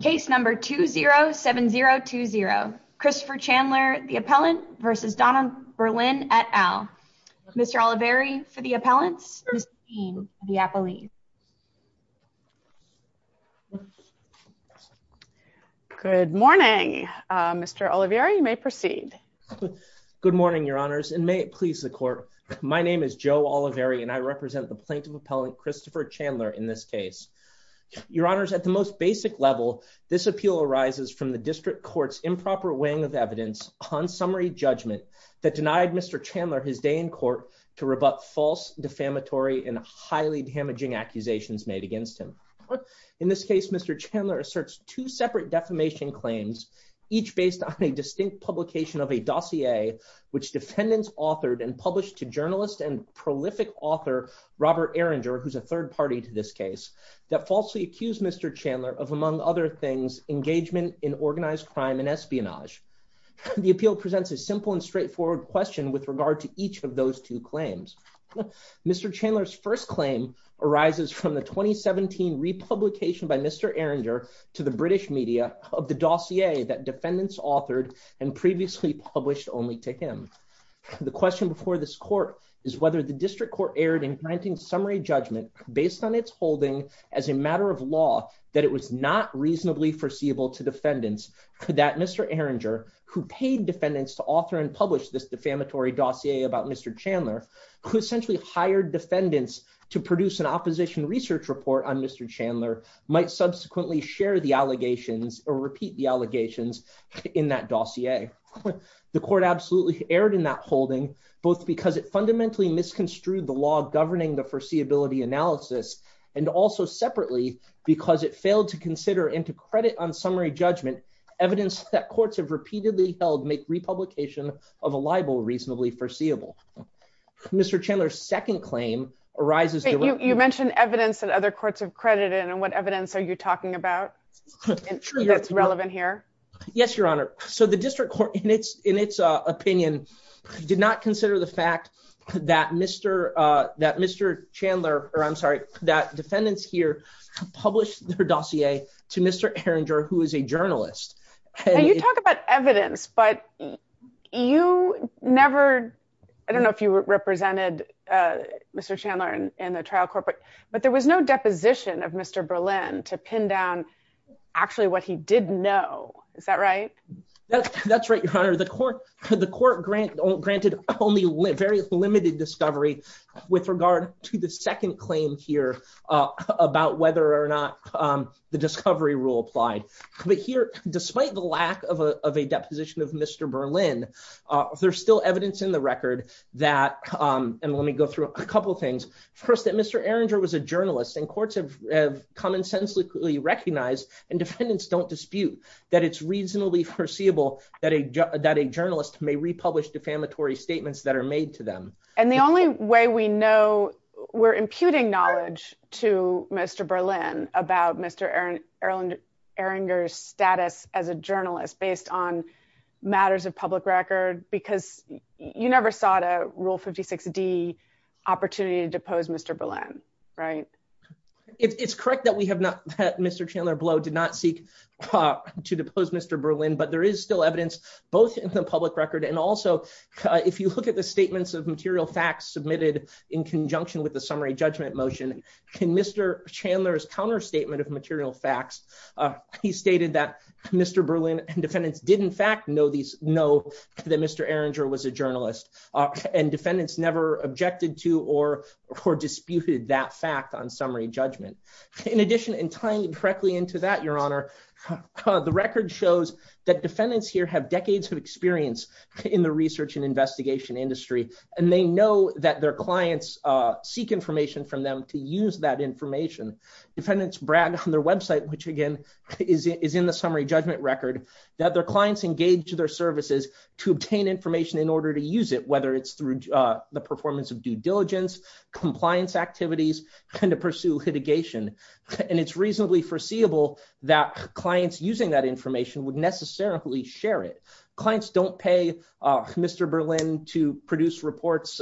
Case number 207020 Christopher Chandler the appellant v. Donald Berlin et al. Mr. Oliveri for the appellants, Ms. Green for the appellees. Good morning, Mr. Oliveri, you may proceed. Good morning, your honors, and may it please the court. My name is Joe Oliveri and I represent the plaintiff appellant Christopher Chandler in this case. Your honors at the most basic level, this appeal arises from the district courts improper weighing of evidence on summary judgment that denied Mr Chandler his day in court to rebut false defamatory and highly damaging accusations made against him. In this case, Mr Chandler asserts two separate defamation claims, each based on a distinct publication of a dossier, which defendants authored and published to journalist and prolific author, Robert Erringer who's a third party to this case that falsely accused Mr Chandler of among other things, engagement in organized crime and espionage. The appeal presents a simple and straightforward question with regard to each of those two claims. Mr Chandler's first claim arises from the 2017 republication by Mr Erringer to the British media of the dossier that defendants authored and previously published only to him. The question before this court is whether the district court erred in granting summary judgment, based on its holding as a matter of law, that it was not reasonably foreseeable to defendants that Mr Erringer, who paid defendants to author and publish this defamatory dossier about Mr Chandler, who essentially hired defendants to produce an opposition research report on Mr Chandler, might subsequently share the allegations or repeat the allegations in that dossier. The court absolutely erred in that holding, both because it fundamentally misconstrued the law governing the foreseeability analysis, and also separately, because it failed to consider into credit on summary judgment evidence that courts have repeatedly held make republication of a libel reasonably foreseeable. Mr Chandler's second claim arises... You mentioned evidence that other courts have credited, and what evidence are you talking about that's relevant here? Yes, Your Honor. So the district court, in its opinion, did not consider the fact that Mr Chandler, or I'm sorry, that defendants here published their dossier to Mr Erringer, who is a journalist. You talk about evidence, but you never... I don't know if you represented Mr Chandler in the trial court, but there was no deposition of Mr Berlin to pin down actually what he did know. Is that right? That's right, Your Honor. The court granted only very limited discovery with regard to the second claim here about whether or not the discovery rule applied. But here, despite the lack of a deposition of Mr Berlin, there's still evidence in the record that, and let me go through a couple things. First, that Mr Erringer was a journalist and courts have commonsensically recognized, and defendants don't dispute that it's reasonably foreseeable that a journalist may republish defamatory statements that are made to them. And the only way we know, we're imputing knowledge to Mr Berlin about Mr Erringer's status as a journalist based on matters of public record, because you never sought a Rule 56D opportunity to depose Mr Berlin, right? It's correct that Mr Chandler Blow did not seek to depose Mr Berlin, but there is still evidence, both in the public record and also if you look at the statements of material facts submitted in conjunction with the summary judgment motion. In Mr Chandler's counterstatement of material facts, he stated that Mr Berlin and defendants did in fact know that Mr Erringer was a journalist, and defendants never objected to or disputed that fact on summary judgment. In addition, and tying directly into that, Your Honor, the record shows that defendants here have decades of experience in the research and investigation industry, and they know that their clients seek information from them to use that information. Defendants brag on their website, which again is in the summary judgment record, that their clients engage their services to obtain information in order to use it, whether it's through the performance of due diligence, compliance activities, and to pursue litigation. And it's reasonably foreseeable that clients using that information would necessarily share it. Clients don't pay Mr Berlin to produce reports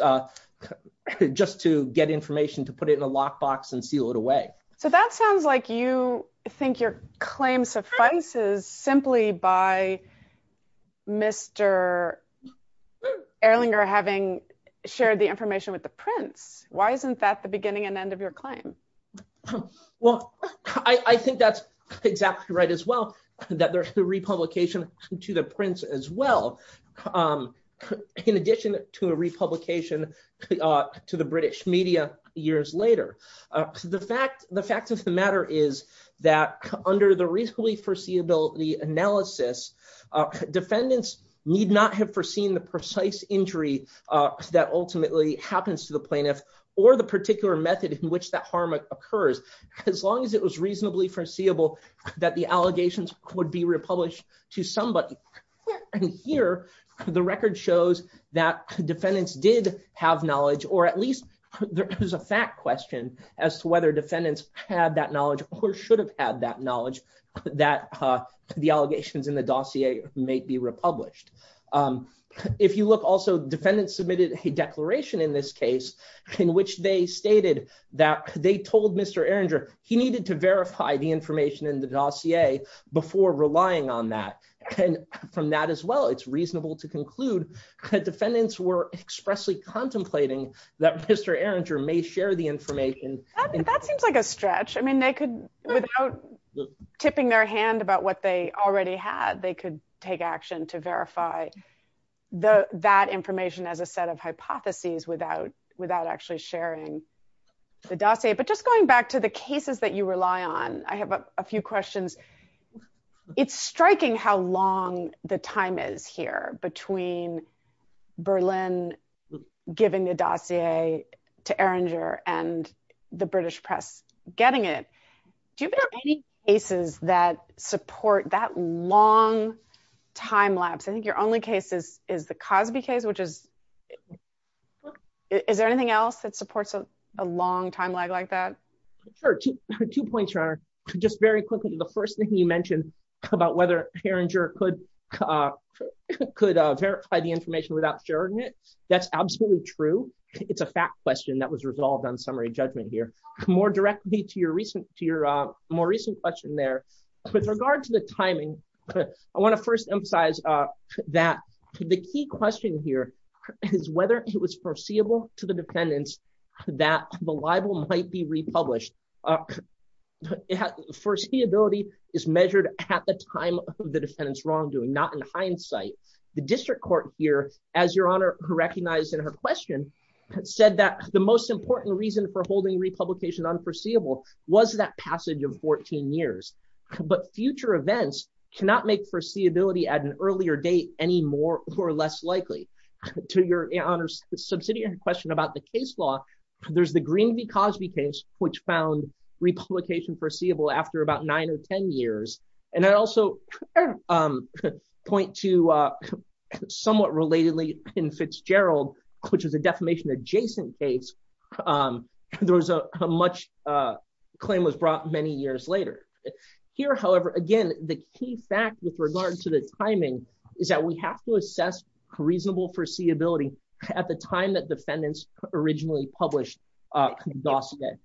just to get information to put it in a lockbox and seal it away. So that sounds like you think your claim suffices simply by Mr Erringer having shared the information with the Prince. Why isn't that the beginning and end of your claim? Well, I think that's exactly right as well, that there's a republication to the Prince as well, in addition to a republication to the British media years later. The fact of the matter is that under the reasonably foreseeability analysis, defendants need not have foreseen the precise injury that ultimately happens to the plaintiff or the particular method in which that harm occurs, as long as it was reasonably foreseeable that the allegations would be republished to somebody. And here, the record shows that defendants did have knowledge, or at least there is a fact question as to whether defendants had that knowledge or should have had that knowledge that the allegations in the dossier may be republished. If you look, also defendants submitted a declaration in this case in which they stated that they told Mr Erringer he needed to verify the information in the dossier before relying on that. And from that as well, it's reasonable to conclude that defendants were expressly contemplating that Mr Erringer may share the information. That seems like a stretch. I mean, they could, without tipping their hand about what they already had, they could take action to verify that information as a set of hypotheses without actually sharing the dossier. But just going back to the cases that you rely on, I have a few questions. It's striking how long the time is here between Berlin giving the dossier to Erringer and the British press getting it. Do you have any cases that support that long time lapse? I think your only case is the Cosby case, which is, is there anything else that supports a long time lag like that? Sure. Two points, Your Honor. Just very quickly, the first thing you mentioned about whether Erringer could verify the information without sharing it, that's absolutely true. It's a fact question that was resolved on summary judgment here. More directly to your more recent question there, with regard to the timing, I want to first emphasize that the key question here is whether it was foreseeable to the defendants that the libel might be republished. Foreseeability is measured at the time of the defendant's wrongdoing, not in hindsight. The district court here, as Your Honor recognized in her question, said that the most important reason for holding republication unforeseeable was that passage of 14 years. But future events cannot make foreseeability at an earlier date any more or less likely. To Your Honor's subsidiary question about the case law, there's the Green v. Cosby case, which found republication foreseeable after about nine or 10 years. And I'd also point to somewhat relatedly in Fitzgerald, which was a defamation adjacent case, there was a much claim was brought many years later. Here, however, again, the key fact with regard to the timing is that we have to assess reasonable foreseeability at the time that defendants originally published.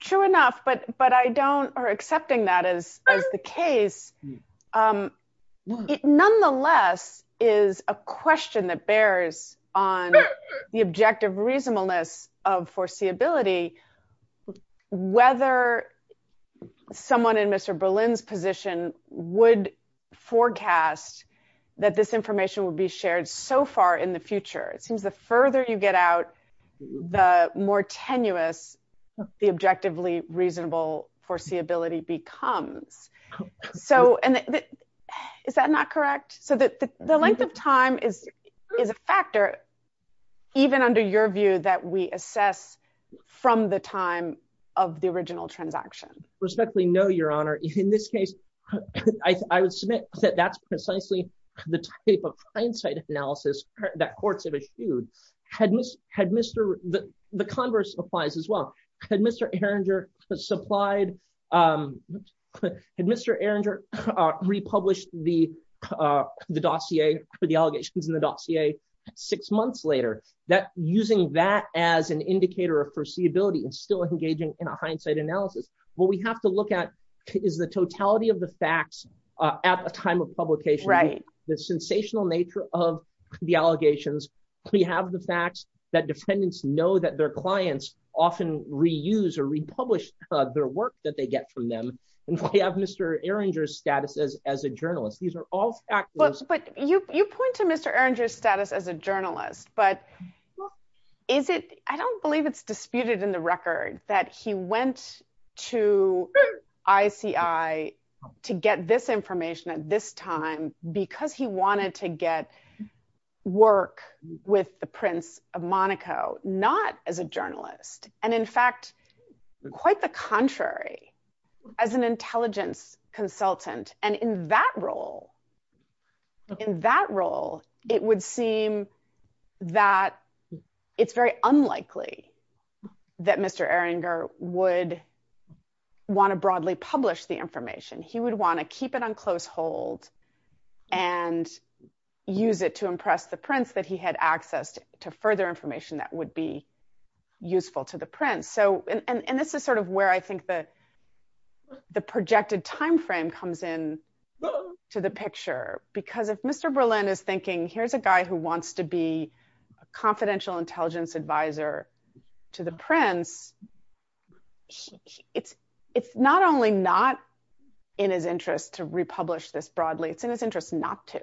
True enough, but I don't, or accepting that as the case, It nonetheless is a question that bears on the objective reasonableness of foreseeability, whether someone in Mr. Berlin's position would forecast that this information will be shared so far in the future. It seems the further you get out, the more tenuous the objectively reasonable foreseeability becomes. So, and is that not correct? So the length of time is a factor, even under your view, that we assess from the time of the original transaction. Respectfully, no, Your Honor. In this case, I would submit that that's precisely the type of hindsight analysis that courts have eschewed. The converse applies as well. Had Mr. Erringer supplied, had Mr. Erringer republished the dossier for the allegations in the dossier six months later, that using that as an indicator of foreseeability and still engaging in a hindsight analysis, what we have to look at is the totality of the facts at a time of publication, the sensational nature of the allegations. We have the facts that defendants know that their clients often reuse or republish their work that they get from them. And we have Mr. Erringer's status as a journalist. These are all factors. But you point to Mr. Erringer's status as a journalist, but I don't believe it's disputed in the record that he went to ICI to get this information at this time because he wanted to get work with the Prince of Monaco, not as a journalist. And in fact, quite the contrary, as an intelligence consultant, and in that role, in that role, it would seem that it's very unlikely that Mr. Erringer would want to broadly publish the information. He would want to keep it on close hold and use it to impress the Prince that he had access to further information that would be useful to the Prince. And this is sort of where I think the projected timeframe comes in to the picture, because if Mr. Berlin is thinking, here's a guy who wants to be a confidential intelligence advisor to the Prince, it's not only not in his interest to republish this broadly, it's in his interest not to.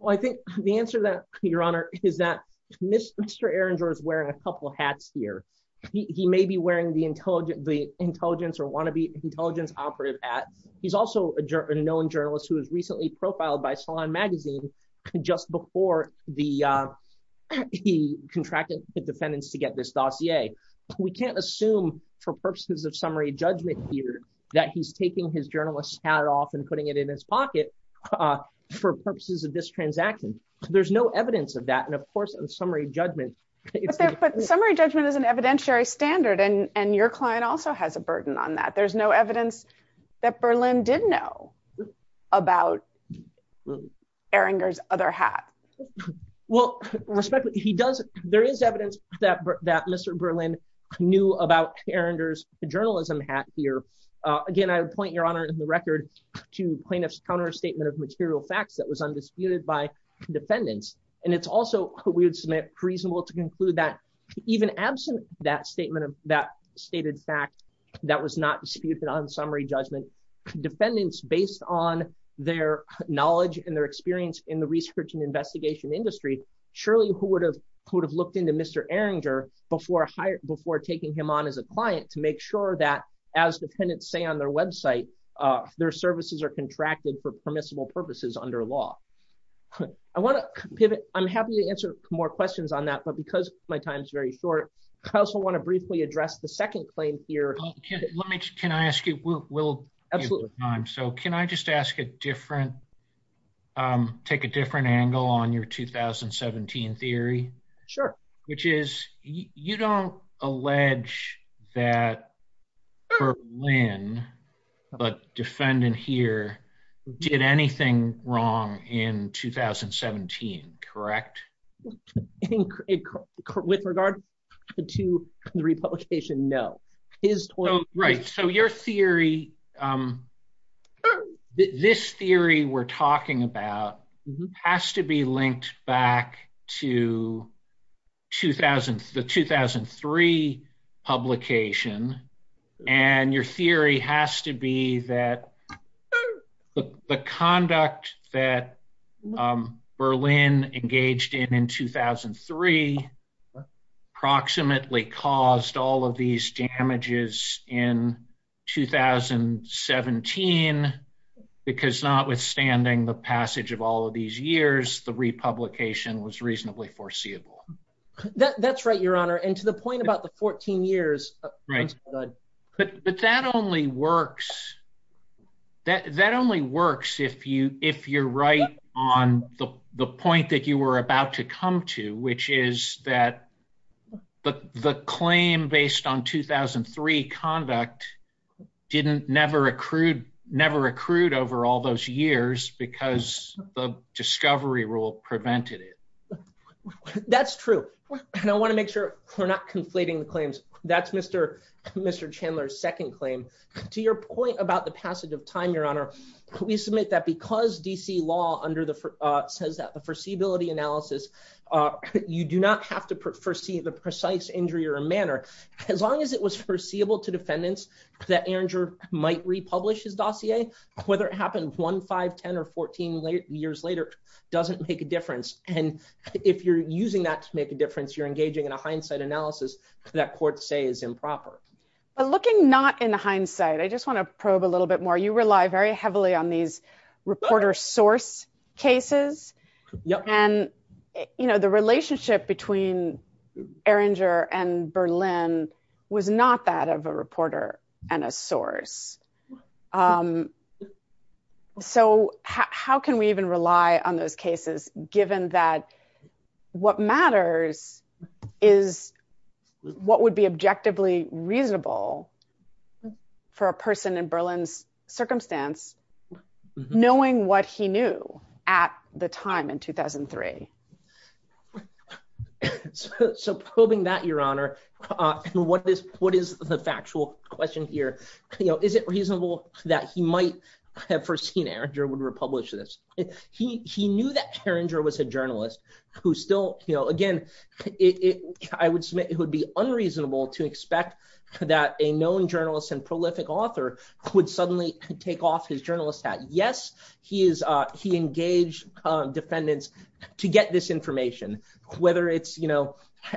Well, I think the answer to that, Your Honor, is that Mr. Erringer is wearing a couple hats here. He may be wearing the intelligence or wannabe intelligence operative hat. He's also a known journalist who was recently profiled by Salon magazine, just before he contracted the defendants to get this dossier. We can't assume for purposes of summary judgment here that he's taking his journalist hat off and putting it in his pocket for purposes of this transaction. There's no evidence of that and of course of summary judgment. But summary judgment is an evidentiary standard and your client also has a burden on that. There's no evidence that Berlin did know about Erringer's other hat. Well, respectfully, there is evidence that Mr. Berlin knew about Erringer's journalism hat here. Again, I would point, Your Honor, in the record to plaintiffs counter statement of material facts that was undisputed by defendants. And it's also, we would submit, reasonable to conclude that even absent that statement of that stated fact that was not disputed on summary judgment, defendants based on their knowledge and their experience in the research and investigation industry, surely who would have looked into Mr. Erringer before taking him on as a client to make sure that, as defendants say on their website, their services are contracted for permissible purposes under law. I want to pivot. I'm happy to answer more questions on that but because my time is very short. I also want to briefly address the second claim here. Let me, can I ask you, we'll have time so can I just ask a different, take a different angle on your 2017 theory, which is, you don't allege that Berlin, the defendant here, did anything wrong in 2017, correct? With regard to the republication, no. Right, so your theory, this theory we're talking about has to be linked back to the 2003 publication. And your theory has to be that the conduct that Berlin engaged in in 2003 approximately caused all of these damages in 2017 because notwithstanding the passage of all of these years, the republication was reasonably foreseeable. That's right, Your Honor, and to the point about the 14 years. But that only works if you're right on the point that you were about to come to, which is that the claim based on 2003 conduct never accrued over all those years because the discovery rule prevented it. That's true. And I want to make sure we're not conflating the claims. That's Mr. Chandler's second claim. To your point about the passage of time, Your Honor, we submit that because DC law under the, says that the foreseeability analysis, you do not have to foresee the precise injury or manner, as long as it was foreseeable to defendants that Ehringer might republish his dossier, whether it happened one, five, 10 or 14 years later, doesn't make a difference. And if you're using that to make a difference, you're engaging in a hindsight analysis that courts say is improper. But looking not in hindsight, I just want to probe a little bit more. You rely very heavily on these reporter source cases. And, you know, the relationship between Ehringer and Berlin was not that of a reporter and a source. So how can we even rely on those cases, given that what matters is what would be objectively reasonable for a person in Berlin's circumstance, knowing what he knew at the time in 2003. So probing that, Your Honor, and what is the factual question here? Is it reasonable that he might have foreseen Ehringer would republish this? He knew that Ehringer was a journalist who still, you know, again, I would submit it would be unreasonable to expect that a known journalist and prolific author would suddenly take off his journalist hat. Yes, he engaged defendants to get this information, whether it's, you know,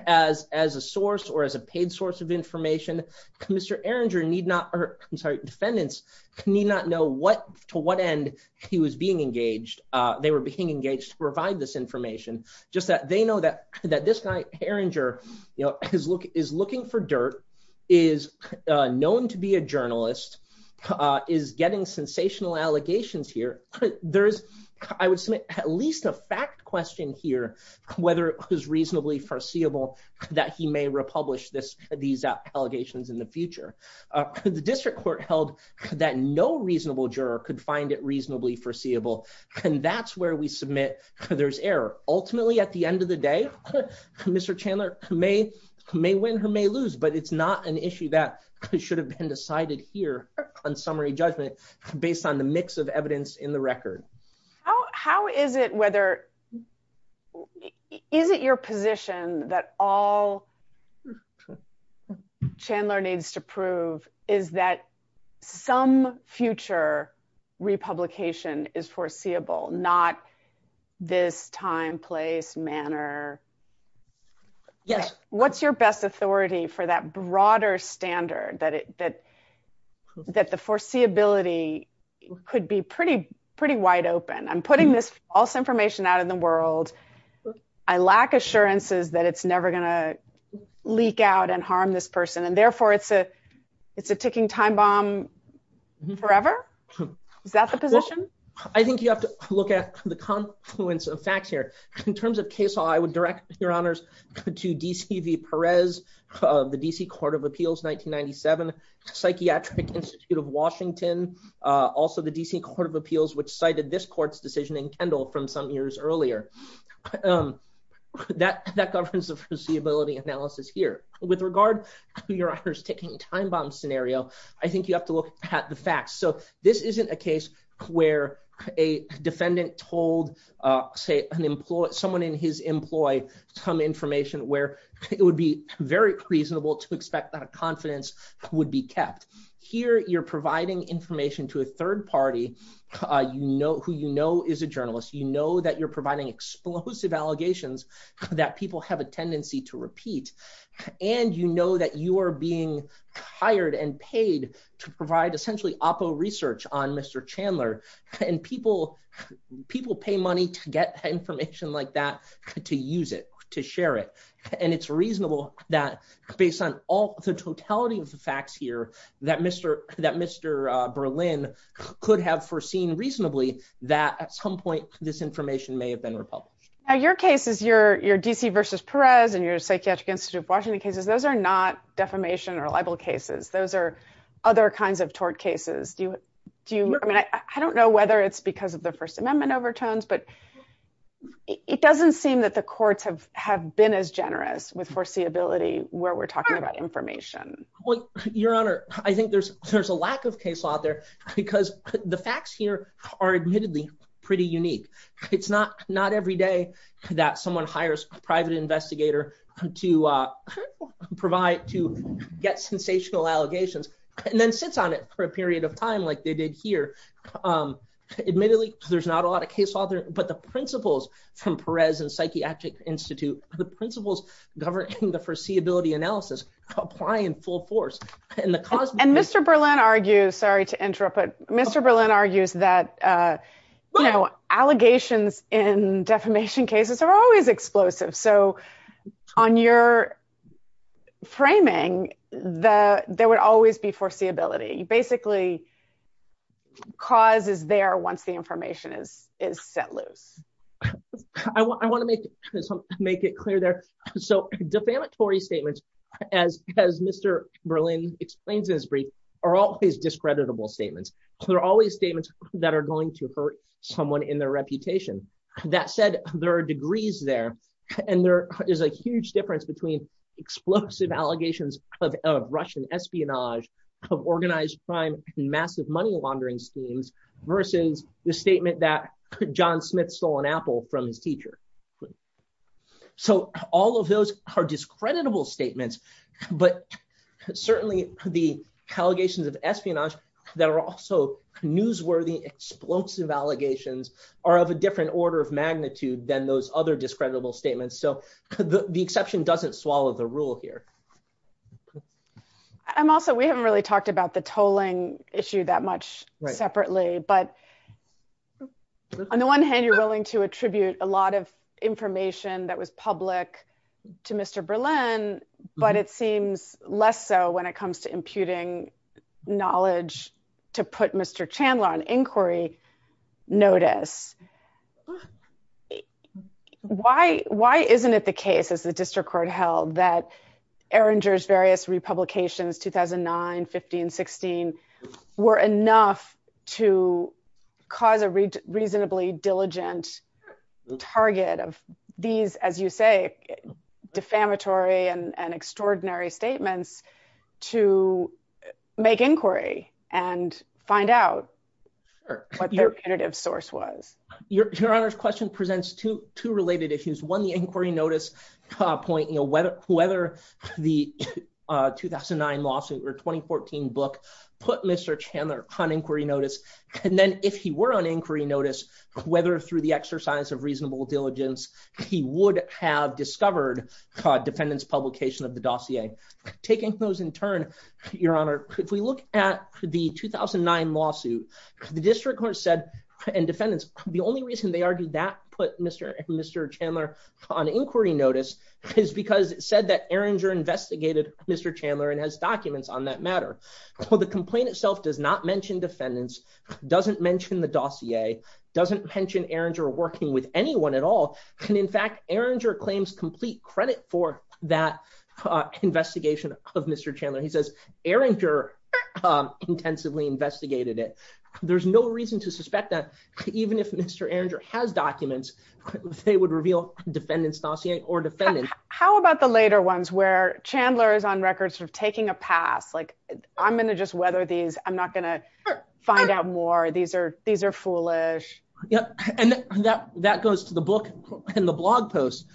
as a source or as a paid source of information. Mr. Ehringer need not, I'm sorry, defendants need not know what to what end he was being engaged. They were being engaged to provide this information just that they know that this guy, Ehringer, you know, is looking for dirt, is known to be a journalist, is getting sensational allegations here. I would submit at least a fact question here, whether it was reasonably foreseeable that he may republish these allegations in the future. The district court held that no reasonable juror could find it reasonably foreseeable, and that's where we submit there's error. Ultimately, at the end of the day, Mr. Chandler may win or may lose, but it's not an issue that should have been decided here on summary judgment based on the mix of evidence in the record. How is it whether, is it your position that all Chandler needs to prove is that some future republication is foreseeable, not this time, place, manner? Yes. What's your best authority for that broader standard that the foreseeability could be pretty, pretty wide open? I'm putting this false information out in the world. I lack assurances that it's never going to leak out and harm this person and therefore it's a ticking time bomb forever? Is that the position? I think you have to look at the confluence of facts here. In terms of case law, I would direct your honors to DC v. Perez, the DC Court of Appeals, 1997, Psychiatric Institute of Washington, also the DC Court of Appeals, which cited this court's decision in Kendall from some years earlier. That governs the foreseeability analysis here. With regard to your honors ticking time bomb scenario, I think you have to look at the facts. So this isn't a case where a defendant told, say, someone in his employ some information where it would be very reasonable to expect that confidence would be kept. Here you're providing information to a third party who you know is a journalist. You know that you're providing explosive allegations that people have a tendency to repeat. And you know that you are being hired and paid to provide essentially oppo research on Mr. Chandler. And people pay money to get information like that, to use it, to share it. And it's reasonable that based on all the totality of the facts here, that Mr. Berlin could have foreseen reasonably that at some point this information may have been republished. Now your cases, your DC v. Perez and your Psychiatric Institute of Washington cases, those are not defamation or libel cases. Those are other kinds of tort cases. I don't know whether it's because of the First Amendment overtones, but it doesn't seem that the courts have been as generous with foreseeability where we're talking about information. Your Honor, I think there's a lack of case law out there because the facts here are admittedly pretty unique. It's not every day that someone hires a private investigator to get sensational allegations and then sits on it for a period of time like they did here. Admittedly, there's not a lot of case law out there, but the principles from Perez and Psychiatric Institute, the principles governing the foreseeability analysis apply in full force. And Mr. Berlin argues, sorry to interrupt, but Mr. Berlin argues that allegations in defamation cases are always explosive. So on your framing, there would always be foreseeability. Basically, cause is there once the information is set loose. I want to make it clear there. So defamatory statements, as Mr. Berlin explains in his brief, are always discreditable statements. They're always statements that are going to hurt someone in their reputation. That said, there are degrees there, and there is a huge difference between explosive allegations of Russian espionage, of organized crime, and massive money laundering schemes versus the statement that John Smith stole an apple from his teacher. So all of those are discreditable statements, but certainly the allegations of espionage that are also newsworthy explosive allegations are of a different order of magnitude than those other discreditable statements. So the exception doesn't swallow the rule here. I'm also, we haven't really talked about the tolling issue that much separately, but on the one hand, you're willing to attribute a lot of information that was public to Mr. Berlin, but it seems less so when it comes to imputing knowledge to put Mr. Chandler on inquiry notice. Why isn't it the case, as the district court held, that Erringer's various republications, 2009, 15, 16, were enough to cause a reasonably diligent target of these, as you say, defamatory and extraordinary statements to make inquiry and find out what their punitive source was? Your Honor's question presents two related issues. One, the inquiry notice point, whether the 2009 lawsuit or 2014 book put Mr. Chandler on inquiry notice, and then if he were on inquiry notice, whether through the exercise of reasonable diligence, he would have discovered defendants publication of the dossier. Taking those in turn, Your Honor, if we look at the 2009 lawsuit, the district court said, and defendants, the only reason they argued that put Mr. Chandler on inquiry notice is because it said that Erringer investigated Mr. Chandler and has documents on that matter. Well, the complaint itself does not mention defendants, doesn't mention the dossier, doesn't mention Erringer working with anyone at all, and in fact, Erringer claims complete credit for that investigation of Mr. Chandler. He says Erringer intensively investigated it. There's no reason to suspect that even if Mr. Erringer has documents, they would reveal defendants dossier or defendant. How about the later ones where Chandler is on record sort of taking a pass, like I'm going to just weather these, I'm not going to find out more, these are foolish. And that goes to the book and the blog post,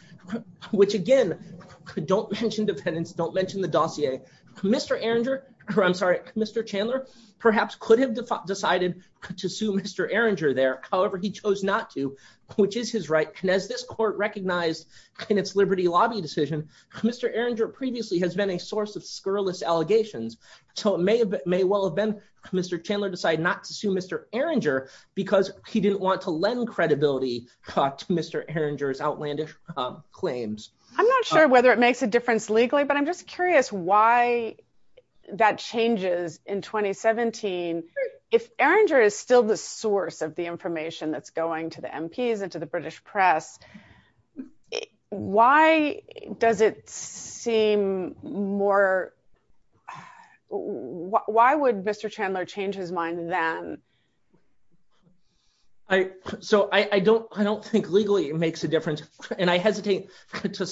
which again, don't mention defendants, don't mention the dossier. Mr. Erringer, or I'm sorry, Mr. Chandler, perhaps could have decided to sue Mr. Erringer there, however he chose not to, which is his right. And as this court recognized in its Liberty Lobby decision, Mr. Erringer previously has been a source of scurrilous allegations, so it may well have been Mr. Chandler decided not to sue Mr. Erringer because he didn't want to lend credibility to Mr. Erringer's outlandish claims. I'm not sure whether it makes a difference legally, but I'm just curious why that changes in 2017. If Erringer is still the source of the information that's going to the MPs and to the British press, why does it seem more, why would Mr. Chandler change his mind then? So I don't think legally it makes a difference, and I hesitate to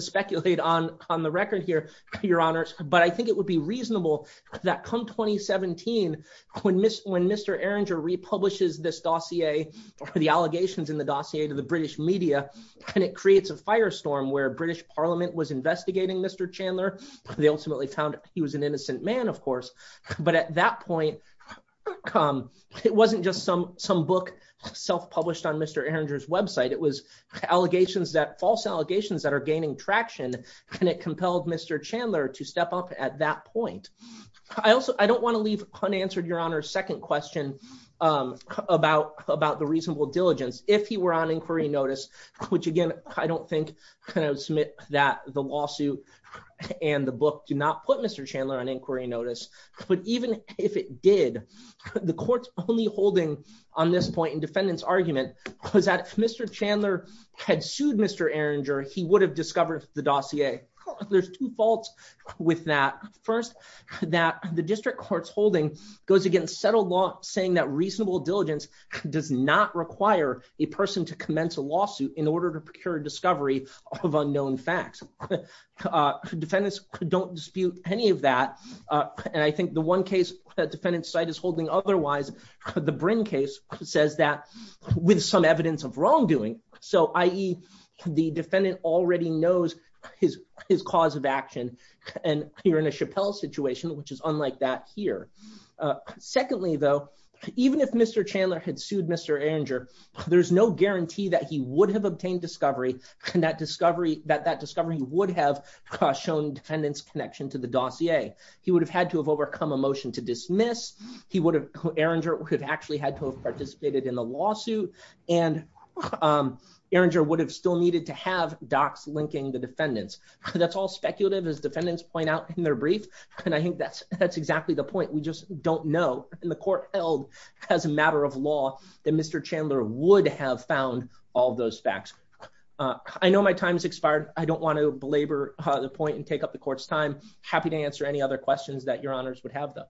speculate on the record here, Your Honors, but I think it would be reasonable that come 2017, when Mr. Erringer republishes this dossier, the allegations in the dossier to the British media, and it creates a firestorm where British Parliament was investigating Mr. Chandler, they ultimately found he was an innocent man, of course. But at that point, it wasn't just some book self-published on Mr. Erringer's website, it was allegations that, false allegations that are gaining traction, and it compelled Mr. Chandler to step up at that point. I don't want to leave unanswered, Your Honor, a second question about the reasonable diligence. If he were on inquiry notice, which again, I don't think I would submit that the lawsuit and the book do not put Mr. Chandler on inquiry notice, but even if it did, the court's only holding on this point in defendant's argument was that if Mr. Chandler had sued Mr. Erringer, he would have discovered the dossier. Okay, there's two faults with that. First, that the district court's holding goes against settled law saying that reasonable diligence does not require a person to commence a lawsuit in order to procure discovery of unknown facts. Defendants don't dispute any of that. And I think the one case that defendant's side is holding otherwise, the Bryn case, says that with some evidence of wrongdoing. So, i.e., the defendant already knows his cause of action, and you're in a Chappelle situation, which is unlike that here. Secondly, though, even if Mr. Chandler had sued Mr. Erringer, there's no guarantee that he would have obtained discovery, and that discovery would have shown defendant's connection to the dossier. He would have had to have overcome a motion to dismiss, Erringer would have actually had to have participated in the lawsuit, and Erringer would have still needed to have docs linking the defendants. That's all speculative, as defendants point out in their brief, and I think that's exactly the point. We just don't know, in the court held as a matter of law, that Mr. Chandler would have found all those facts. I know my time's expired. I don't want to belabor the point and take up the court's time. Happy to answer any other questions that your honors would have, though.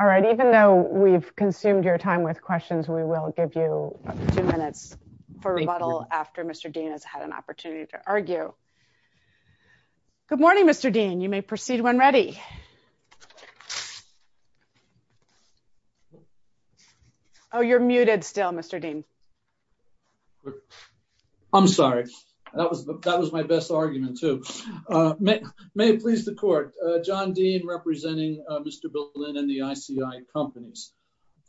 All right, even though we've consumed your time with questions, we will give you two minutes for rebuttal after Mr. Dean has had an opportunity to argue. Good morning, Mr. Dean. You may proceed when ready. Oh, you're muted still, Mr. Dean. I'm sorry. That was my best argument, too. May it please the court, John Dean representing Mr. Berlin and the ICI companies.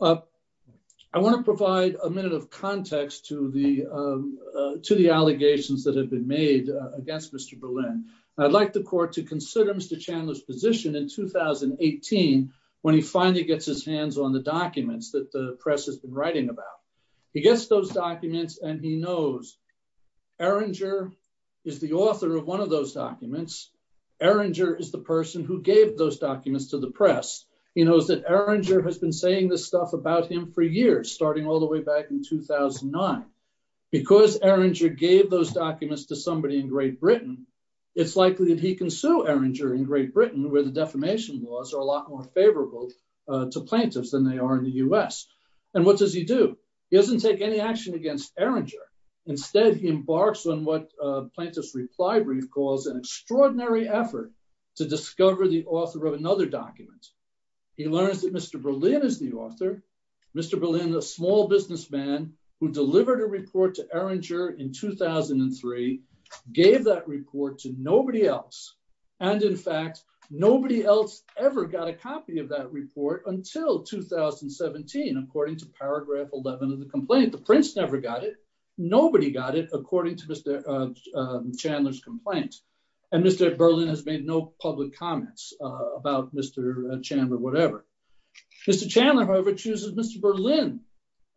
I want to provide a minute of context to the allegations that have been made against Mr. Berlin. I'd like the court to consider Mr. Chandler's position in 2018 when he finally gets his hands on the documents that the press has been writing about. He gets those documents and he knows Erringer is the author of one of those documents. Erringer is the person who gave those documents to the press. He knows that Erringer has been saying this stuff about him for years, starting all the way back in 2009. Because Erringer gave those documents to somebody in Great Britain, it's likely that he can sue Erringer in Great Britain where the defamation laws are a lot more favorable to plaintiffs than they are in the U.S. And what does he do? He doesn't take any action against Erringer. Instead, he embarks on what Plaintiff's Reply Brief calls an extraordinary effort to discover the author of another document. He learns that Mr. Berlin is the author. Mr. Berlin, a small businessman who delivered a report to Erringer in 2003, gave that report to nobody else. And in fact, nobody else ever got a copy of that report until 2017, according to paragraph 11 of the complaint. The Prince never got it. Nobody got it, according to Mr. Chandler's complaint. And Mr. Berlin has made no public comments about Mr. Chandler, whatever. Mr. Chandler, however, chooses Mr. Berlin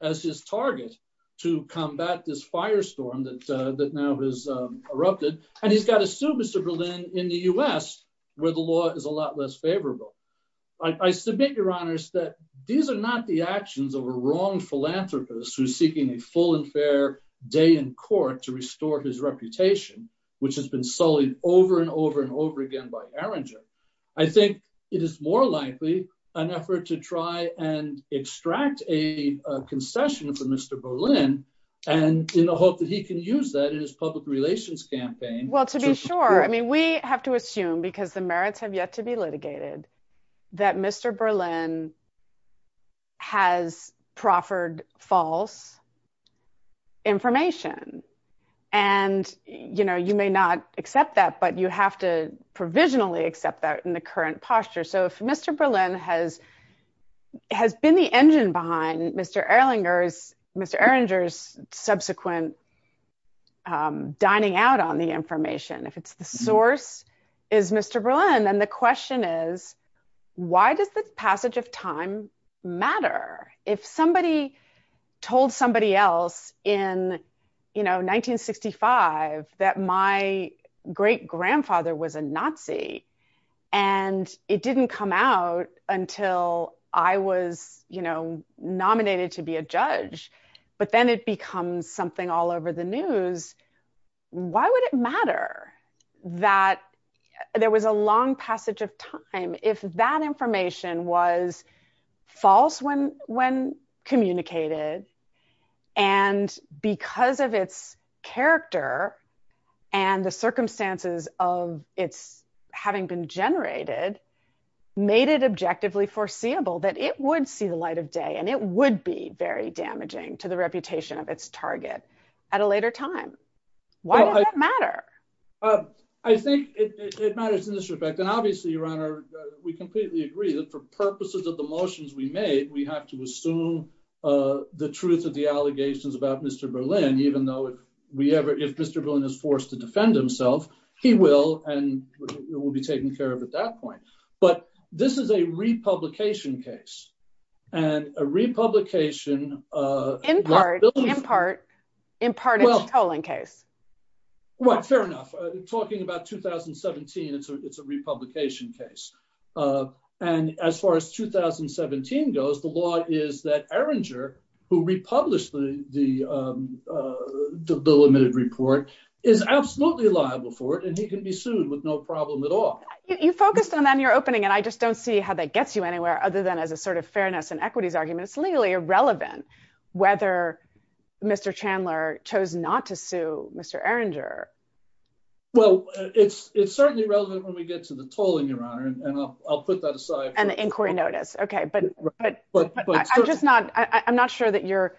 as his target to combat this firestorm that now has erupted. And he's got to sue Mr. Berlin in the U.S., where the law is a lot less favorable. I submit, Your Honors, that these are not the actions of a wrong philanthropist who's seeking a full and fair day in court to restore his reputation, which has been sullied over and over and over again by Erringer. I think it is more likely an effort to try and extract a concession from Mr. Berlin, and in the hope that he can use that in his public relations campaign. Well, to be sure. I mean, we have to assume, because the merits have yet to be litigated, that Mr. Berlin has proffered false information. And, you know, you may not accept that, but you have to provisionally accept that in the current posture. So if Mr. Berlin has been the engine behind Mr. Erringer's subsequent dining out on the information, if the source is Mr. Berlin, then the question is, why does this passage of time matter? If somebody told somebody else in, you know, 1965 that my great-grandfather was a Nazi, and it didn't come out until I was, you know, nominated to be a judge, but then it becomes something all over the news, why would it matter that there was a long passage of time? If that information was false when communicated, and because of its character and the circumstances of its having been generated, made it objectively foreseeable that it would see the light of day, and it would be very damaging to the reputation of its target at a later time. Why does that matter? I think it matters in this respect, and obviously, Your Honor, we completely agree that for purposes of the motions we made, we have to assume the truth of the allegations about Mr. Berlin, even though if Mr. Berlin is forced to defend himself, he will, and will be taken care of at that point. But this is a republication case, and a republication... In part, in part, in part it's a tolling case. Right, fair enough. Talking about 2017, it's a republication case. And as far as 2017 goes, the law is that Erringer, who republished the limited report, is absolutely liable for it, and he can be sued with no problem at all. You focused on that in your opening, and I just don't see how that gets you anywhere other than as a sort of fairness and equities argument. It's legally irrelevant whether Mr. Chandler chose not to sue Mr. Erringer. Well, it's certainly relevant when we get to the tolling, Your Honor, and I'll put that aside. And the inquiry notice. Okay, but I'm not sure that you're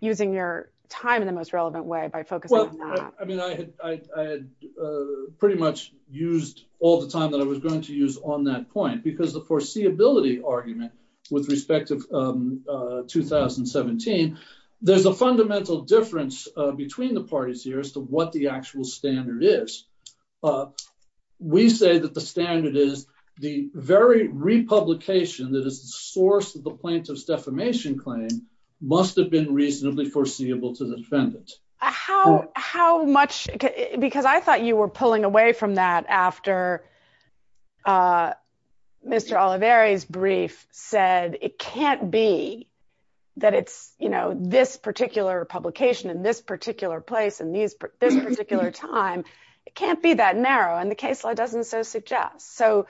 using your time in the most relevant way by focusing on that. I mean, I had pretty much used all the time that I was going to use on that point, because the foreseeability argument with respect to 2017, there's a fundamental difference between the parties here as to what the actual standard is. We say that the standard is the very republication that is the source of the plaintiff's defamation claim must have been reasonably foreseeable to the defendant. How, how much, because I thought you were pulling away from that after Mr. Oliveri's brief said it can't be that it's, you know, this particular publication in this particular place and these particular time. It can't be that narrow and the case law doesn't so suggest. So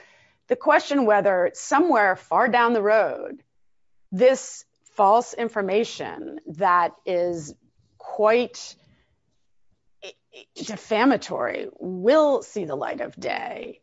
the question whether somewhere far down the road, this false information that is quite defamatory will see the light of day.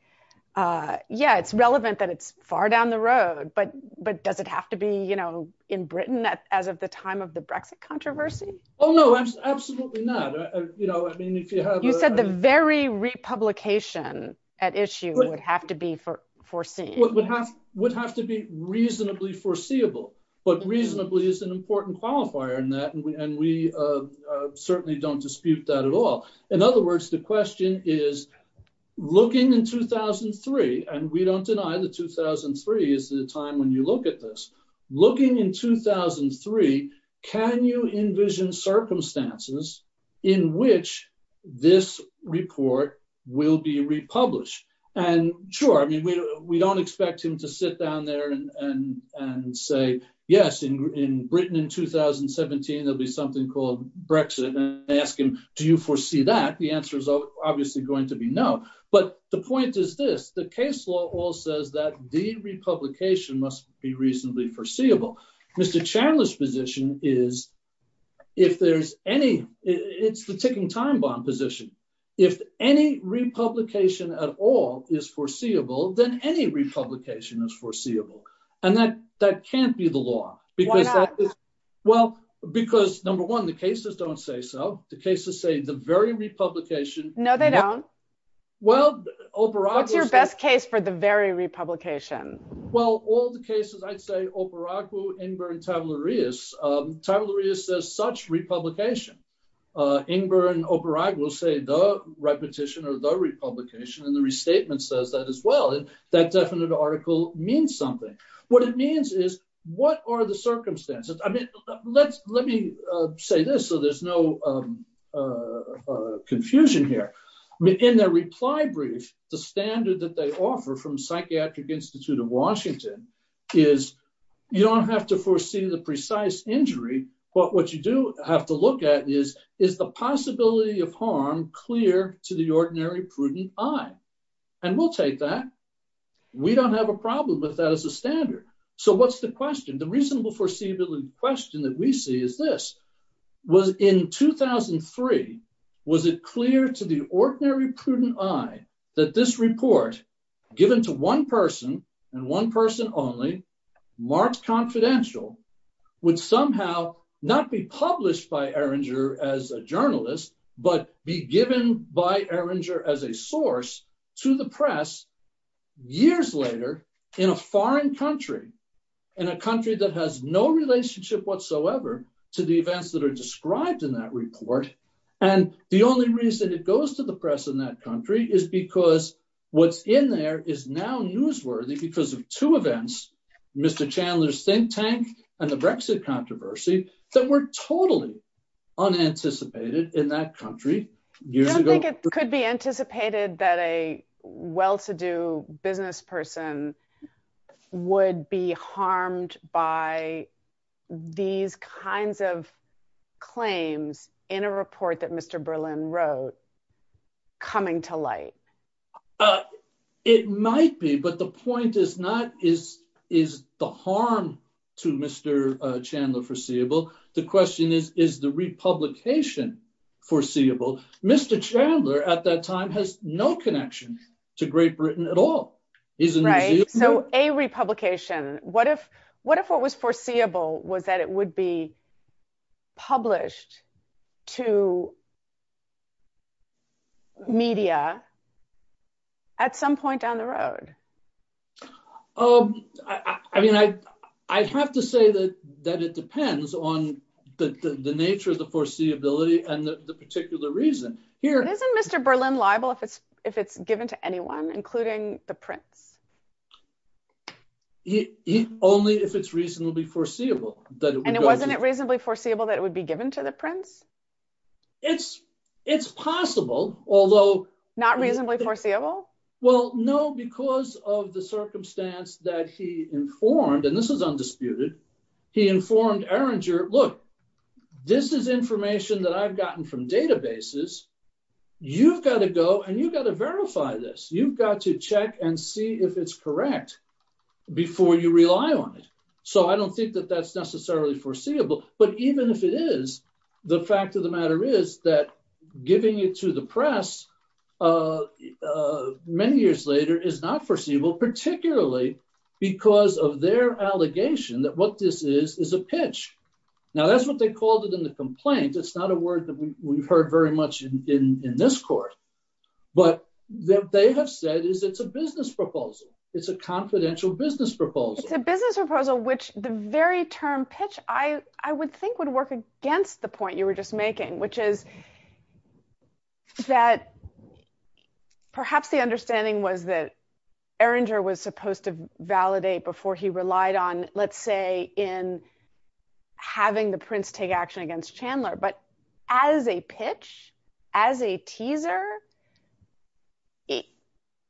Yeah, it's relevant that it's far down the road but but does it have to be, you know, in Britain as of the time of the Brexit controversy. Oh no, absolutely not. You know, I mean if you have, you said the very republication at issue would have to be for foreseeing would have would have to be reasonably foreseeable, but reasonably is an important qualifier in that and we certainly don't dispute that at all. In other words, the question is, looking in 2003, and we don't deny the 2003 is the time when you look at this, looking in 2003. Can you envision circumstances in which this report will be republished. And sure, I mean we don't expect him to sit down there and say, yes, in Britain in 2017 there'll be something called Brexit and ask him, do you foresee that the answer is obviously going to be no, but the point is this the case law all says that the republication must be reasonably foreseeable. Mr Chandler's position is, if there's any, it's the ticking time bomb position. If any republication at all is foreseeable than any republication is foreseeable, and that that can't be the law, because, well, because number one the cases don't say so. The cases say the very republication. No, they don't. Well, Oprah, what's your best case for the very republication. Well, all the cases I'd say Oprah in burn tabloid is tabloid is says such republication in burn Oprah will say the repetition or the republication and the restatement says that as well and that definite article means something. What it means is, what are the circumstances, I mean, let's, let me say this so there's no confusion here in their reply brief, the standard that they offer from Psychiatric Institute of Washington is, you don't have to foresee the precise injury, but what you do have to look at is, is the possibility of harm clear to the ordinary prudent. And we'll take that. We don't have a problem with that as a standard. So what's the question the reasonable foreseeability question that we see is this was in 2003. Was it clear to the ordinary prudent I that this report, given to one person, and one person only marked confidential would somehow not be published by Erringer as a journalist, but be given by Erringer as a source to the press. Years later, in a foreign country in a country that has no relationship whatsoever to the events that are described in that report. And the only reason it goes to the press in that country is because what's in there is now newsworthy because of two events. Mr Chandler's think tank, and the Brexit controversy that were totally unanticipated in that country. Years ago, it could be anticipated that a well to do business person would be harmed by these kinds of claims in a report that Mr Berlin wrote coming to light. It might be but the point is not is is the harm to Mr Chandler foreseeable. The question is, is the republication foreseeable Mr Chandler at that time has no connection to Great Britain at all. So a republication. What if, what if what was foreseeable was that it would be published to Media At some point down the road. I mean, I, I have to say that that it depends on the nature of the foreseeability and the particular reason here. Isn't Mr Berlin liable if it's if it's given to anyone, including the prince. He only if it's reasonably foreseeable that It wasn't reasonably foreseeable that it would be given to the prince. It's, it's possible, although Not reasonably foreseeable. Well, no, because of the circumstance that he informed and this is undisputed he informed Arringer look this is information that I've gotten from databases. You've got to go and you've got to verify this. You've got to check and see if it's correct. Before you rely on it. So I don't think that that's necessarily foreseeable, but even if it is the fact of the matter is that giving it to the press. Many years later is not foreseeable, particularly because of their allegation that what this is is a pitch. Now that's what they called it in the complaint. It's not a word that we've heard very much in this court, but that they have said is it's a business proposal. It's a confidential business proposal. It's a business proposal, which the very term pitch. I, I would think would work against the point you were just making, which is That Perhaps the understanding was that Arringer was supposed to validate before he relied on, let's say in having the prince take action against Chandler, but as a pitch as a teaser. He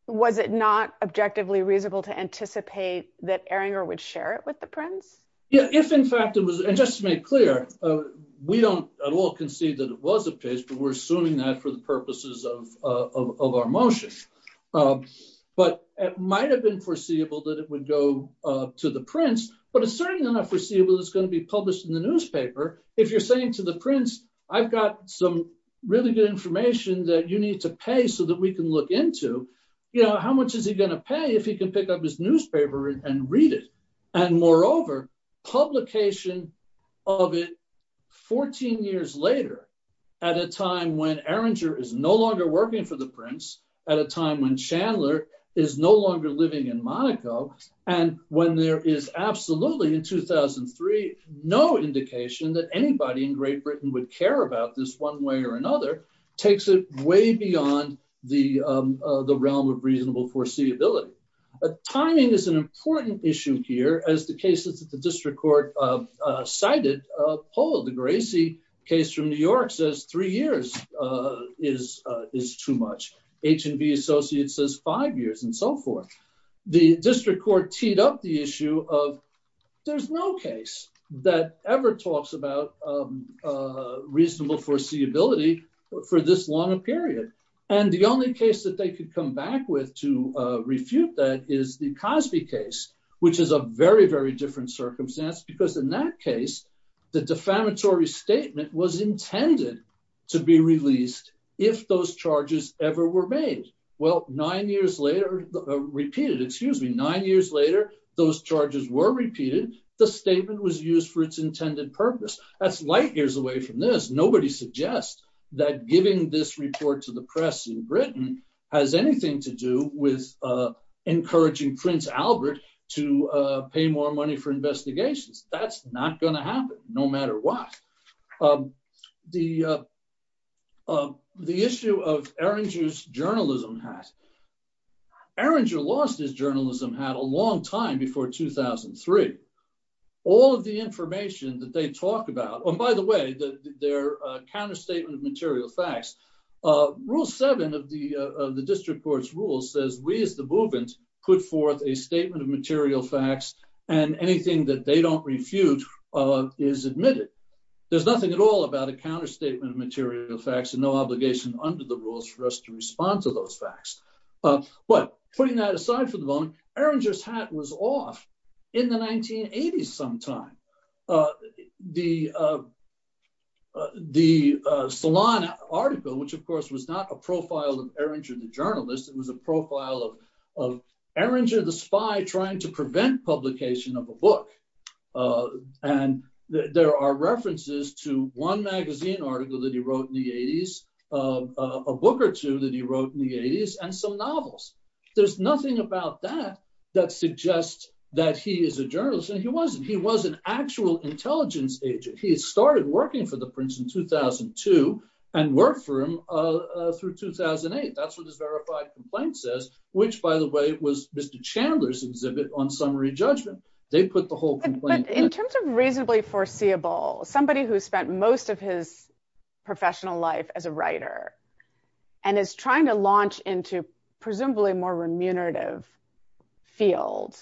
was it not objectively reasonable to anticipate that Arringer would share it with the prince. Yeah, if in fact it was. And just to make clear, we don't at all concede that it was a pitch, but we're assuming that for the purposes of of our motion. But it might have been foreseeable that it would go to the prince, but it's certainly not foreseeable. It's going to be published in the newspaper. If you're saying to the prince, I've got some really good information that you need to pay so that we can look into You know, how much is he going to pay if he can pick up his newspaper and read it and moreover publication of it 14 years later. At a time when Arringer is no longer working for the prince at a time when Chandler is no longer living in Monaco. And when there is absolutely in 2003 no indication that anybody in Great Britain would care about this one way or another takes it way beyond the realm of reasonable foreseeability. Timing is an important issue here as the cases that the district court cited a poll the Gracie case from New York says three years. Is is too much H&V Associates says five years and so forth. The district court teed up the issue of there's no case that ever talks about Reasonable foreseeability for this long a period. And the only case that they could come back with to refute that is the Cosby case, which is a very, very different circumstance because in that case. The defamatory statement was intended to be released. If those charges ever were made. Well, nine years later, repeated, excuse me, nine years later, those charges were repeated the statement was used for its intended purpose. That's light years away from this. Nobody suggests that giving this report to the press in Britain has anything to do with encouraging Prince Albert to pay more money for investigations. That's not going to happen, no matter what. The The issue of erringer's journalism has erringer lost his journalism had a long time before 2003 all of the information that they talked about. Oh, by the way, their counter statement of material facts. Rule seven of the district courts rule says we as the movement put forth a statement of material facts and anything that they don't refute Is admitted. There's nothing at all about a counter statement of material facts and no obligation under the rules for us to respond to those facts. But putting that aside for the moment erringer's hat was off in the 1980s sometime The The salon article, which of course was not a profile of erringer the journalist. It was a profile of of erringer the spy trying to prevent publication of a book. And there are references to one magazine article that he wrote in the 80s of a book or two that he wrote in the 80s and some novels. There's nothing about that that suggests that he is a journalist and he wasn't he was an actual intelligence agent. He started working for the Princeton 2002 and work for him. Through 2008 that's what is verified complaint says, which, by the way, was Mr Chandler's exhibit on summary judgment, they put the whole In terms of reasonably foreseeable somebody who spent most of his professional life as a writer and is trying to launch into presumably more remunerative Field,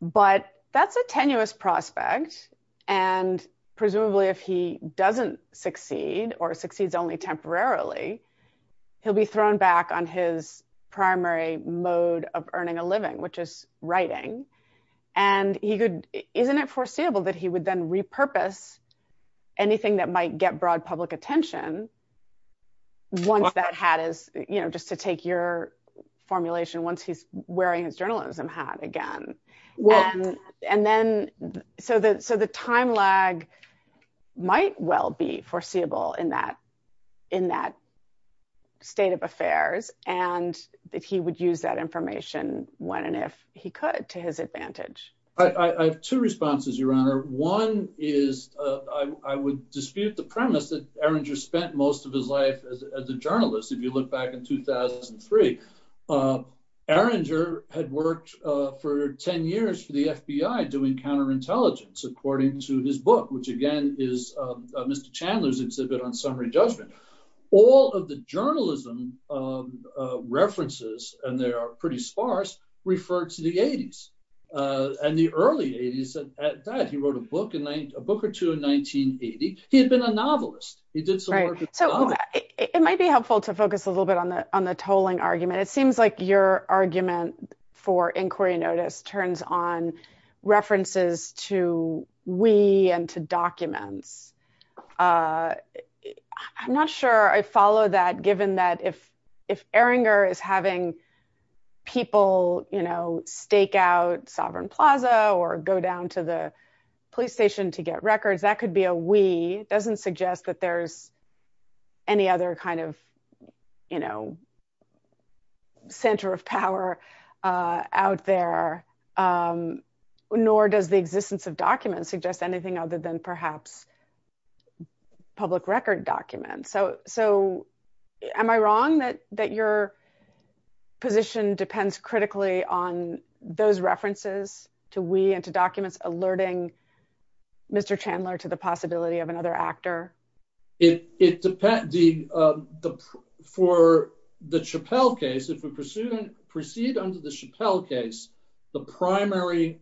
but that's a tenuous prospect and presumably if he doesn't succeed or succeeds only temporarily he'll be thrown back on his primary mode of earning a living, which is writing and he could isn't it foreseeable that he would then repurpose anything that might get broad public attention. Once that hat is, you know, just to take your formulation. Once he's wearing his journalism hat again. Well, and then so that so the time lag might well be foreseeable in that in that state of affairs and that he would use that information when and if he could to his advantage. I have two responses, Your Honor. One is, I would dispute the premise that Aaron just spent most of his life as a journalist. If you look back in 2003 Arranger had worked for 10 years for the FBI doing counterintelligence, according to his book, which again is Mr Chandler's exhibit on summary judgment, all of the journalism. References and they are pretty sparse referred to the 80s and the early 80s that he wrote a book and a book or two in 1980 he had been a novelist, he did. It might be helpful to focus a little bit on the on the tolling argument. It seems like your argument for inquiry notice turns on references to we and to documents. I'm not sure I follow that given that if if Erringer is having people, you know, stake out sovereign plaza or go down to the police station to get records that could be a we doesn't suggest that there's any other kind of, you know, Center of power out there. Nor does the existence of documents suggest anything other than perhaps Public record documents. So, so am I wrong that that your position depends critically on those references to we and to documents alerting Mr Chandler to the possibility of another actor. It depends. For the Chappelle case if we proceed proceed under the Chappelle case, the primary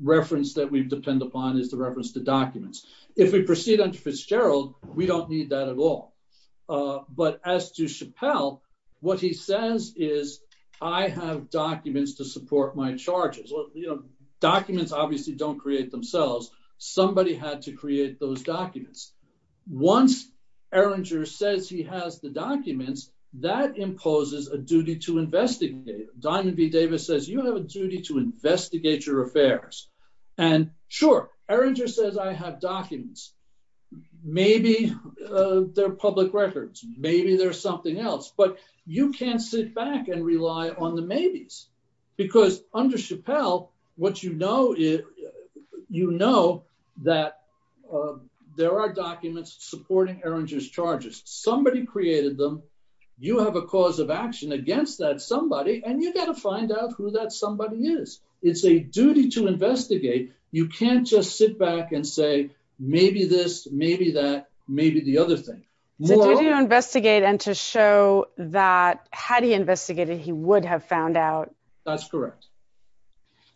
Reference that we depend upon is the reference to documents. If we proceed on Fitzgerald. We don't need that at all. But as to Chappelle what he says is, I have documents to support my charges. Well, you know, documents obviously don't create themselves. Somebody had to create those documents. Once Erringer says he has the documents that imposes a duty to investigate Diamond V Davis says you have a duty to investigate your affairs and sure Erringer says I have documents. Maybe they're public records. Maybe there's something else, but you can't sit back and rely on the maybes because under Chappelle what you know if you know that There are documents supporting Erringer's charges. Somebody created them. You have a cause of action against that somebody and you got to find out who that somebody is. It's a duty to investigate. You can't just sit back and say, maybe this, maybe that maybe the other thing. To investigate and to show that had he investigated, he would have found out That's correct.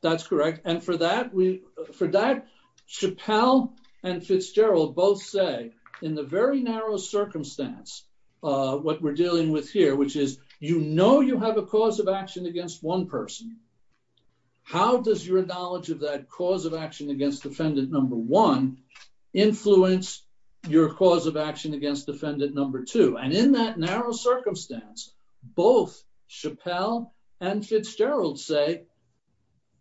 That's correct. And for that we for that Chappelle and Fitzgerald both say in the very narrow circumstance, what we're dealing with here, which is, you know, you have a cause of action against one person. How does your knowledge of that cause of action against defendant number one influence your cause of action against defendant number two and in that narrow circumstance, both Chappelle and Fitzgerald say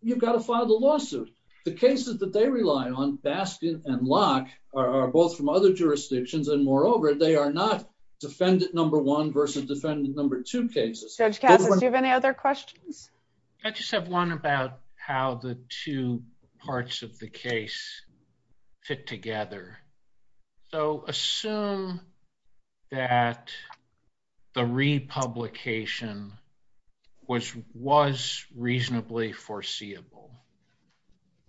You've got to file the lawsuit. The cases that they rely on Baskin and Locke are both from other jurisdictions and moreover, they are not defendant number one versus defendant number two cases. Do you have any other questions. I just have one about how the two parts of the case fit together. So assume that the republication was was reasonably foreseeable.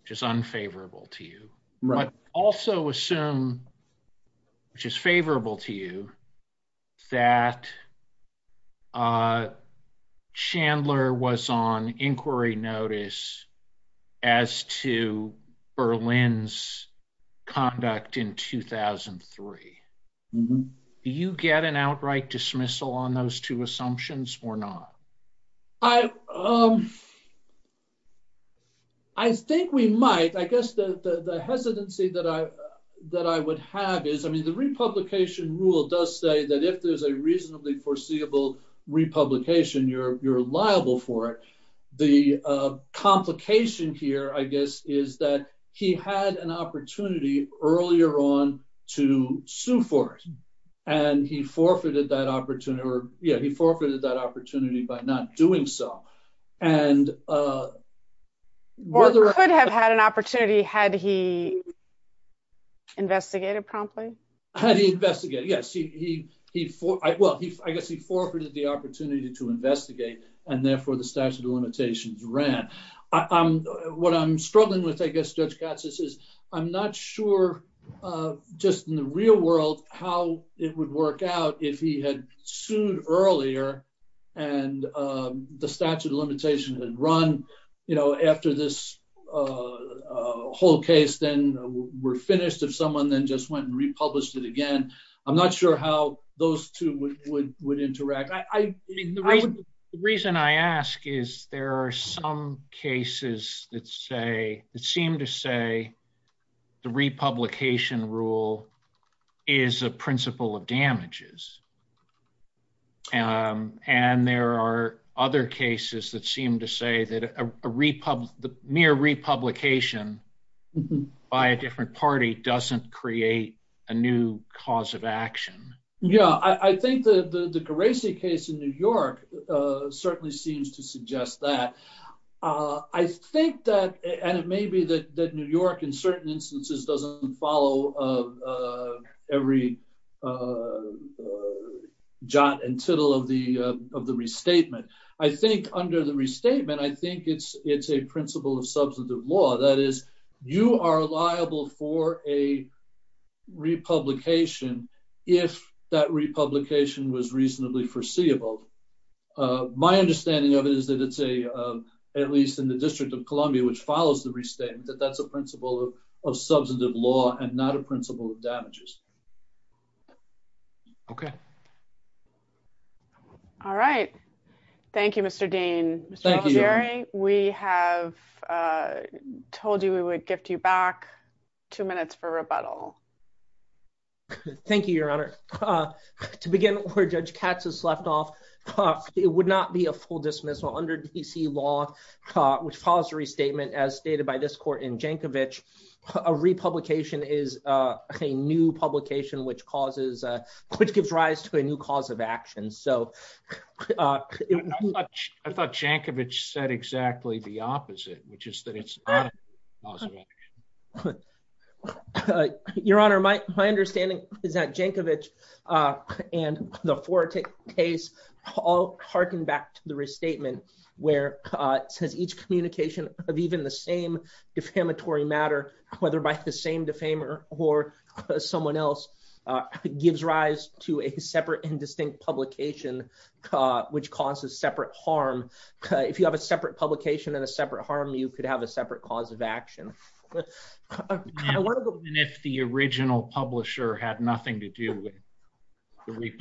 Just unfavorable to you, but also assume which is favorable to you that Chandler was on inquiry notice as to Berlin's conduct in 2003 Do you get an outright dismissal on those two assumptions or not. I, um, I think we might. I guess the hesitancy that I that I would have is, I mean, the republication rule does say that if there's a reasonably foreseeable republication, you're, you're liable for it. The complication here, I guess, is that he had an opportunity earlier on to sue for it and he forfeited that opportunity or yeah he forfeited that opportunity by not doing so. And Whether I could have had an opportunity. Had he Investigated promptly. Had he investigated. Yes, he he he for I well he I guess he forfeited the opportunity to investigate and therefore the statute of limitations ran. I'm what I'm struggling with, I guess, Judge Katz says, I'm not sure. Just in the real world, how it would work out if he had sued earlier and the statute of limitations and run, you know, after this Whole case, then we're finished. If someone then just went and republished it again. I'm not sure how those two would would would interact. I mean, the reason The reason I ask is there are some cases that say it seemed to say the republication rule is a principle of damages. And there are other cases that seem to say that a republic, the mere republication By a different party doesn't create a new cause of action. Yeah, I think that the the crazy case in New York certainly seems to suggest that I think that and it may be that that New York in certain instances doesn't follow. Every Jot and tittle of the of the restatement. I think under the restatement. I think it's it's a principle of substantive law that is you are liable for a Republication if that republication was reasonably foreseeable. My understanding of it is that it's a at least in the District of Columbia, which follows the restatement that that's a principle of substantive law and not a principle of damages. Okay. All right. Thank you, Mr. Dean. Jerry, we have told you, we would gift you back two minutes for rebuttal. Thank you, Your Honor. To begin with, where Judge Katz has left off. It would not be a full dismissal under DC law which follows the restatement as stated by this court in Djankovic a republication is a new publication which causes which gives rise to a new cause of action so I thought Djankovic said exactly the opposite, which is that it's Your Honor, my, my understanding is that Djankovic and the four case all harken back to the restatement, where it says each communication of even the same defamatory matter, whether by the same defamer or someone else gives rise to a separate and distinct publication, which causes separate harm. If you have a separate publication and a separate harm, you could have a separate cause of action. And if the original publisher had nothing to do with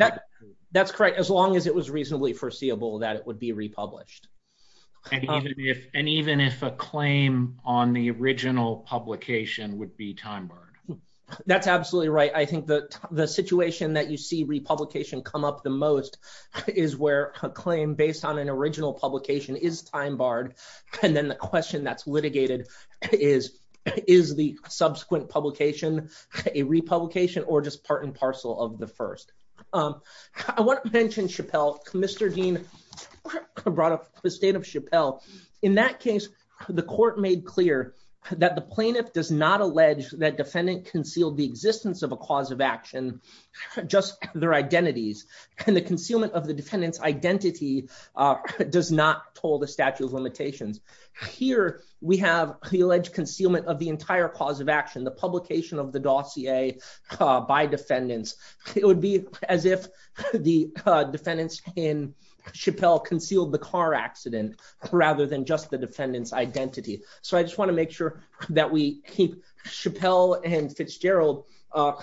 That's correct. As long as it was reasonably foreseeable that it would be republished. And even if, and even if a claim on the original publication would be time barred. That's absolutely right. I think that the situation that you see republication come up the most is where a claim based on an original publication is time barred. And then the question that's litigated is, is the subsequent publication a republication or just part and parcel of the first I want to mention Chappelle, Mr. Dean Brought up the state of Chappelle. In that case, the court made clear that the plaintiff does not allege that defendant concealed the existence of a cause of action. Just their identities and the concealment of the defendants identity does not toll the statute of limitations. Here we have the alleged concealment of the entire cause of action, the publication of the dossier by defendants, it would be as if The defendants in Chappelle concealed the car accident, rather than just the defendants identity. So I just want to make sure that we keep Chappelle and Fitzgerald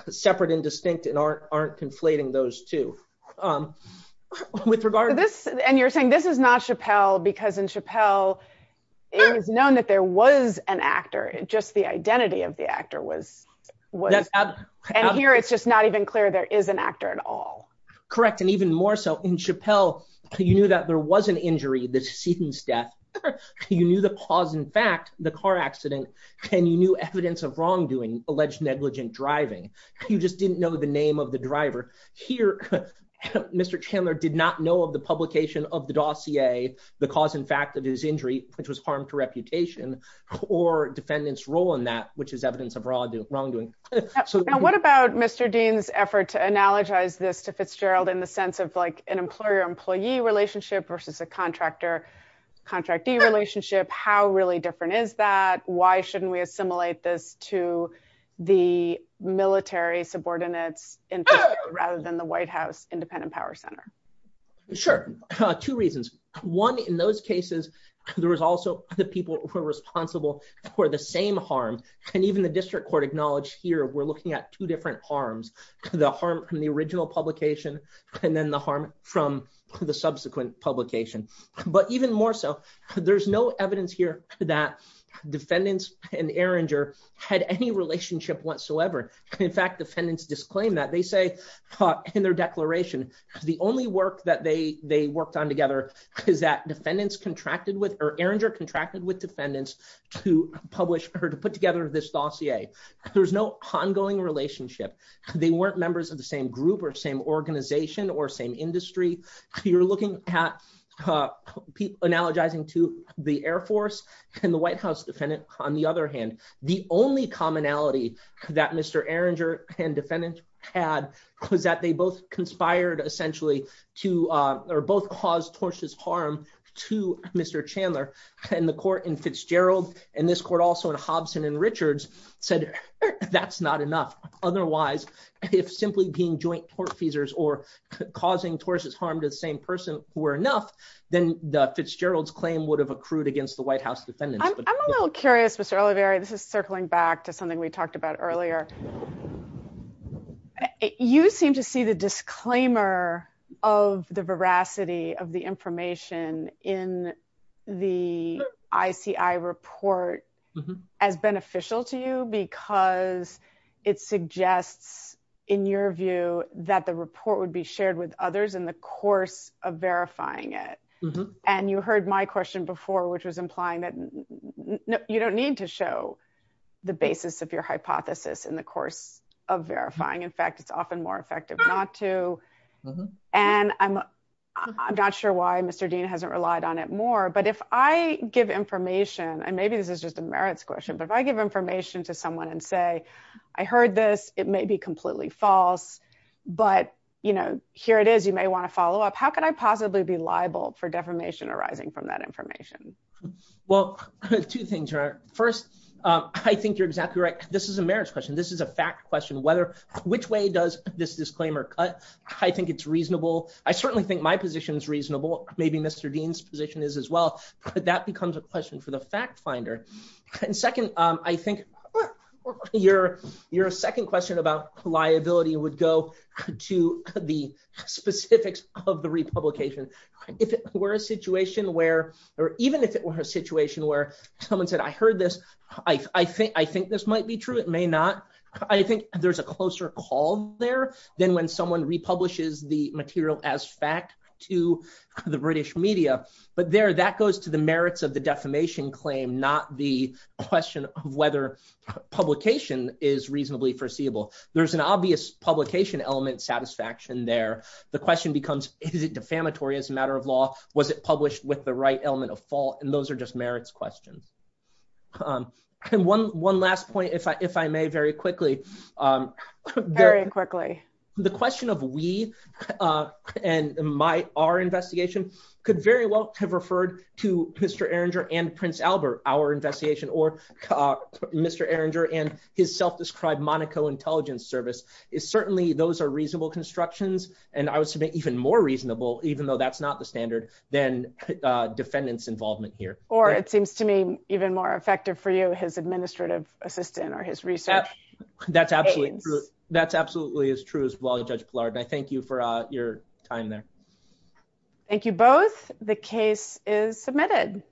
separate and distinct and aren't aren't conflating those two With regard to this. And you're saying this is not Chappelle because in Chappelle, it was known that there was an actor and just the identity of the actor was And here it's just not even clear there is an actor at all. Correct. And even more so in Chappelle, you knew that there was an injury, the decedent's death. You knew the cause. In fact, the car accident and you knew evidence of wrongdoing alleged negligent driving. You just didn't know the name of the driver here. Mr. Chandler did not know of the publication of the dossier, the cause. In fact, it is injury, which was harm to reputation or defendants role in that which is evidence of wrongdoing. What about Mr. Dean's effort to analogize this to Fitzgerald in the sense of like an employer employee relationship versus a contractor Contractee relationship. How really different is that, why shouldn't we assimilate this to the military subordinates rather than the White House Independent Power Center. Sure. Two reasons. One, in those cases, there was also the people who are responsible for the same harm and even the district court acknowledge here we're looking at two different harms. The harm from the original publication and then the harm from the subsequent publication, but even more so, there's no evidence here that defendants and Erringer had any relationship whatsoever. In fact, defendants disclaim that they say in their declaration, the only work that they they worked on together is that defendants contracted with or Erringer contracted with defendants to publish her to put together this dossier. There's no ongoing relationship. They weren't members of the same group or same organization or same industry, you're looking at People analogizing to the Air Force and the White House defendant. On the other hand, the only commonality that Mr Erringer and defendant had was that they both conspired essentially to Or both cause torches harm to Mr Chandler and the court in Fitzgerald, and this court also in Hobson and Richards said that's not enough. Otherwise, if simply being joint court feasors or causing torches harm to the same person were enough, then the Fitzgerald's claim would have accrued against the White House defendant. I'm a little curious, Mr O'Leary, this is circling back to something we talked about earlier. You seem to see the disclaimer of the veracity of the information in the ICI report as beneficial to you because it suggests, in your view, that the report would be shared with others in the course of verifying it And you heard my question before, which was implying that you don't need to show the basis of your hypothesis in the course of verifying. In fact, it's often more effective not to And I'm not sure why Mr Dean hasn't relied on it more. But if I give information and maybe this is just a merits question, but if I give information to someone and say I heard this, it may be completely false. But, you know, here it is, you may want to follow up. How could I possibly be liable for defamation arising from that information? Well, two things. First, I think you're exactly right. This is a merits question. This is a fact question. Which way does this disclaimer cut? I think it's reasonable. I certainly think my position is reasonable. Maybe Mr. Dean's position is as well. But that becomes a question for the fact finder. And second, I think your second question about liability would go to the specifics of the republication. If it were a situation where, or even if it were a situation where someone said, I heard this, I think this might be true. It may not. I think there's a closer call there than when someone republishes the material as fact to the British media. But there, that goes to the merits of the defamation claim, not the question of whether publication is reasonably foreseeable. There's an obvious publication element satisfaction there. The question becomes, is it defamatory as a matter of law? Was it published with the right element of fault? And those are just merits questions. And one last point, if I may, very quickly. Very quickly. The question of we and our investigation could very well have referred to Mr. Erringer and Prince Albert, our investigation, or Mr. Erringer and his self-described Monaco Intelligence Service. Certainly, those are reasonable constructions. And I would submit even more reasonable, even though that's not the standard, than defendants' involvement here. Or it seems to me even more effective for you, his administrative assistant or his research. That's absolutely true. That's absolutely as true as well, Judge Pillard. And I thank you for your time there. Thank you both. The case is submitted.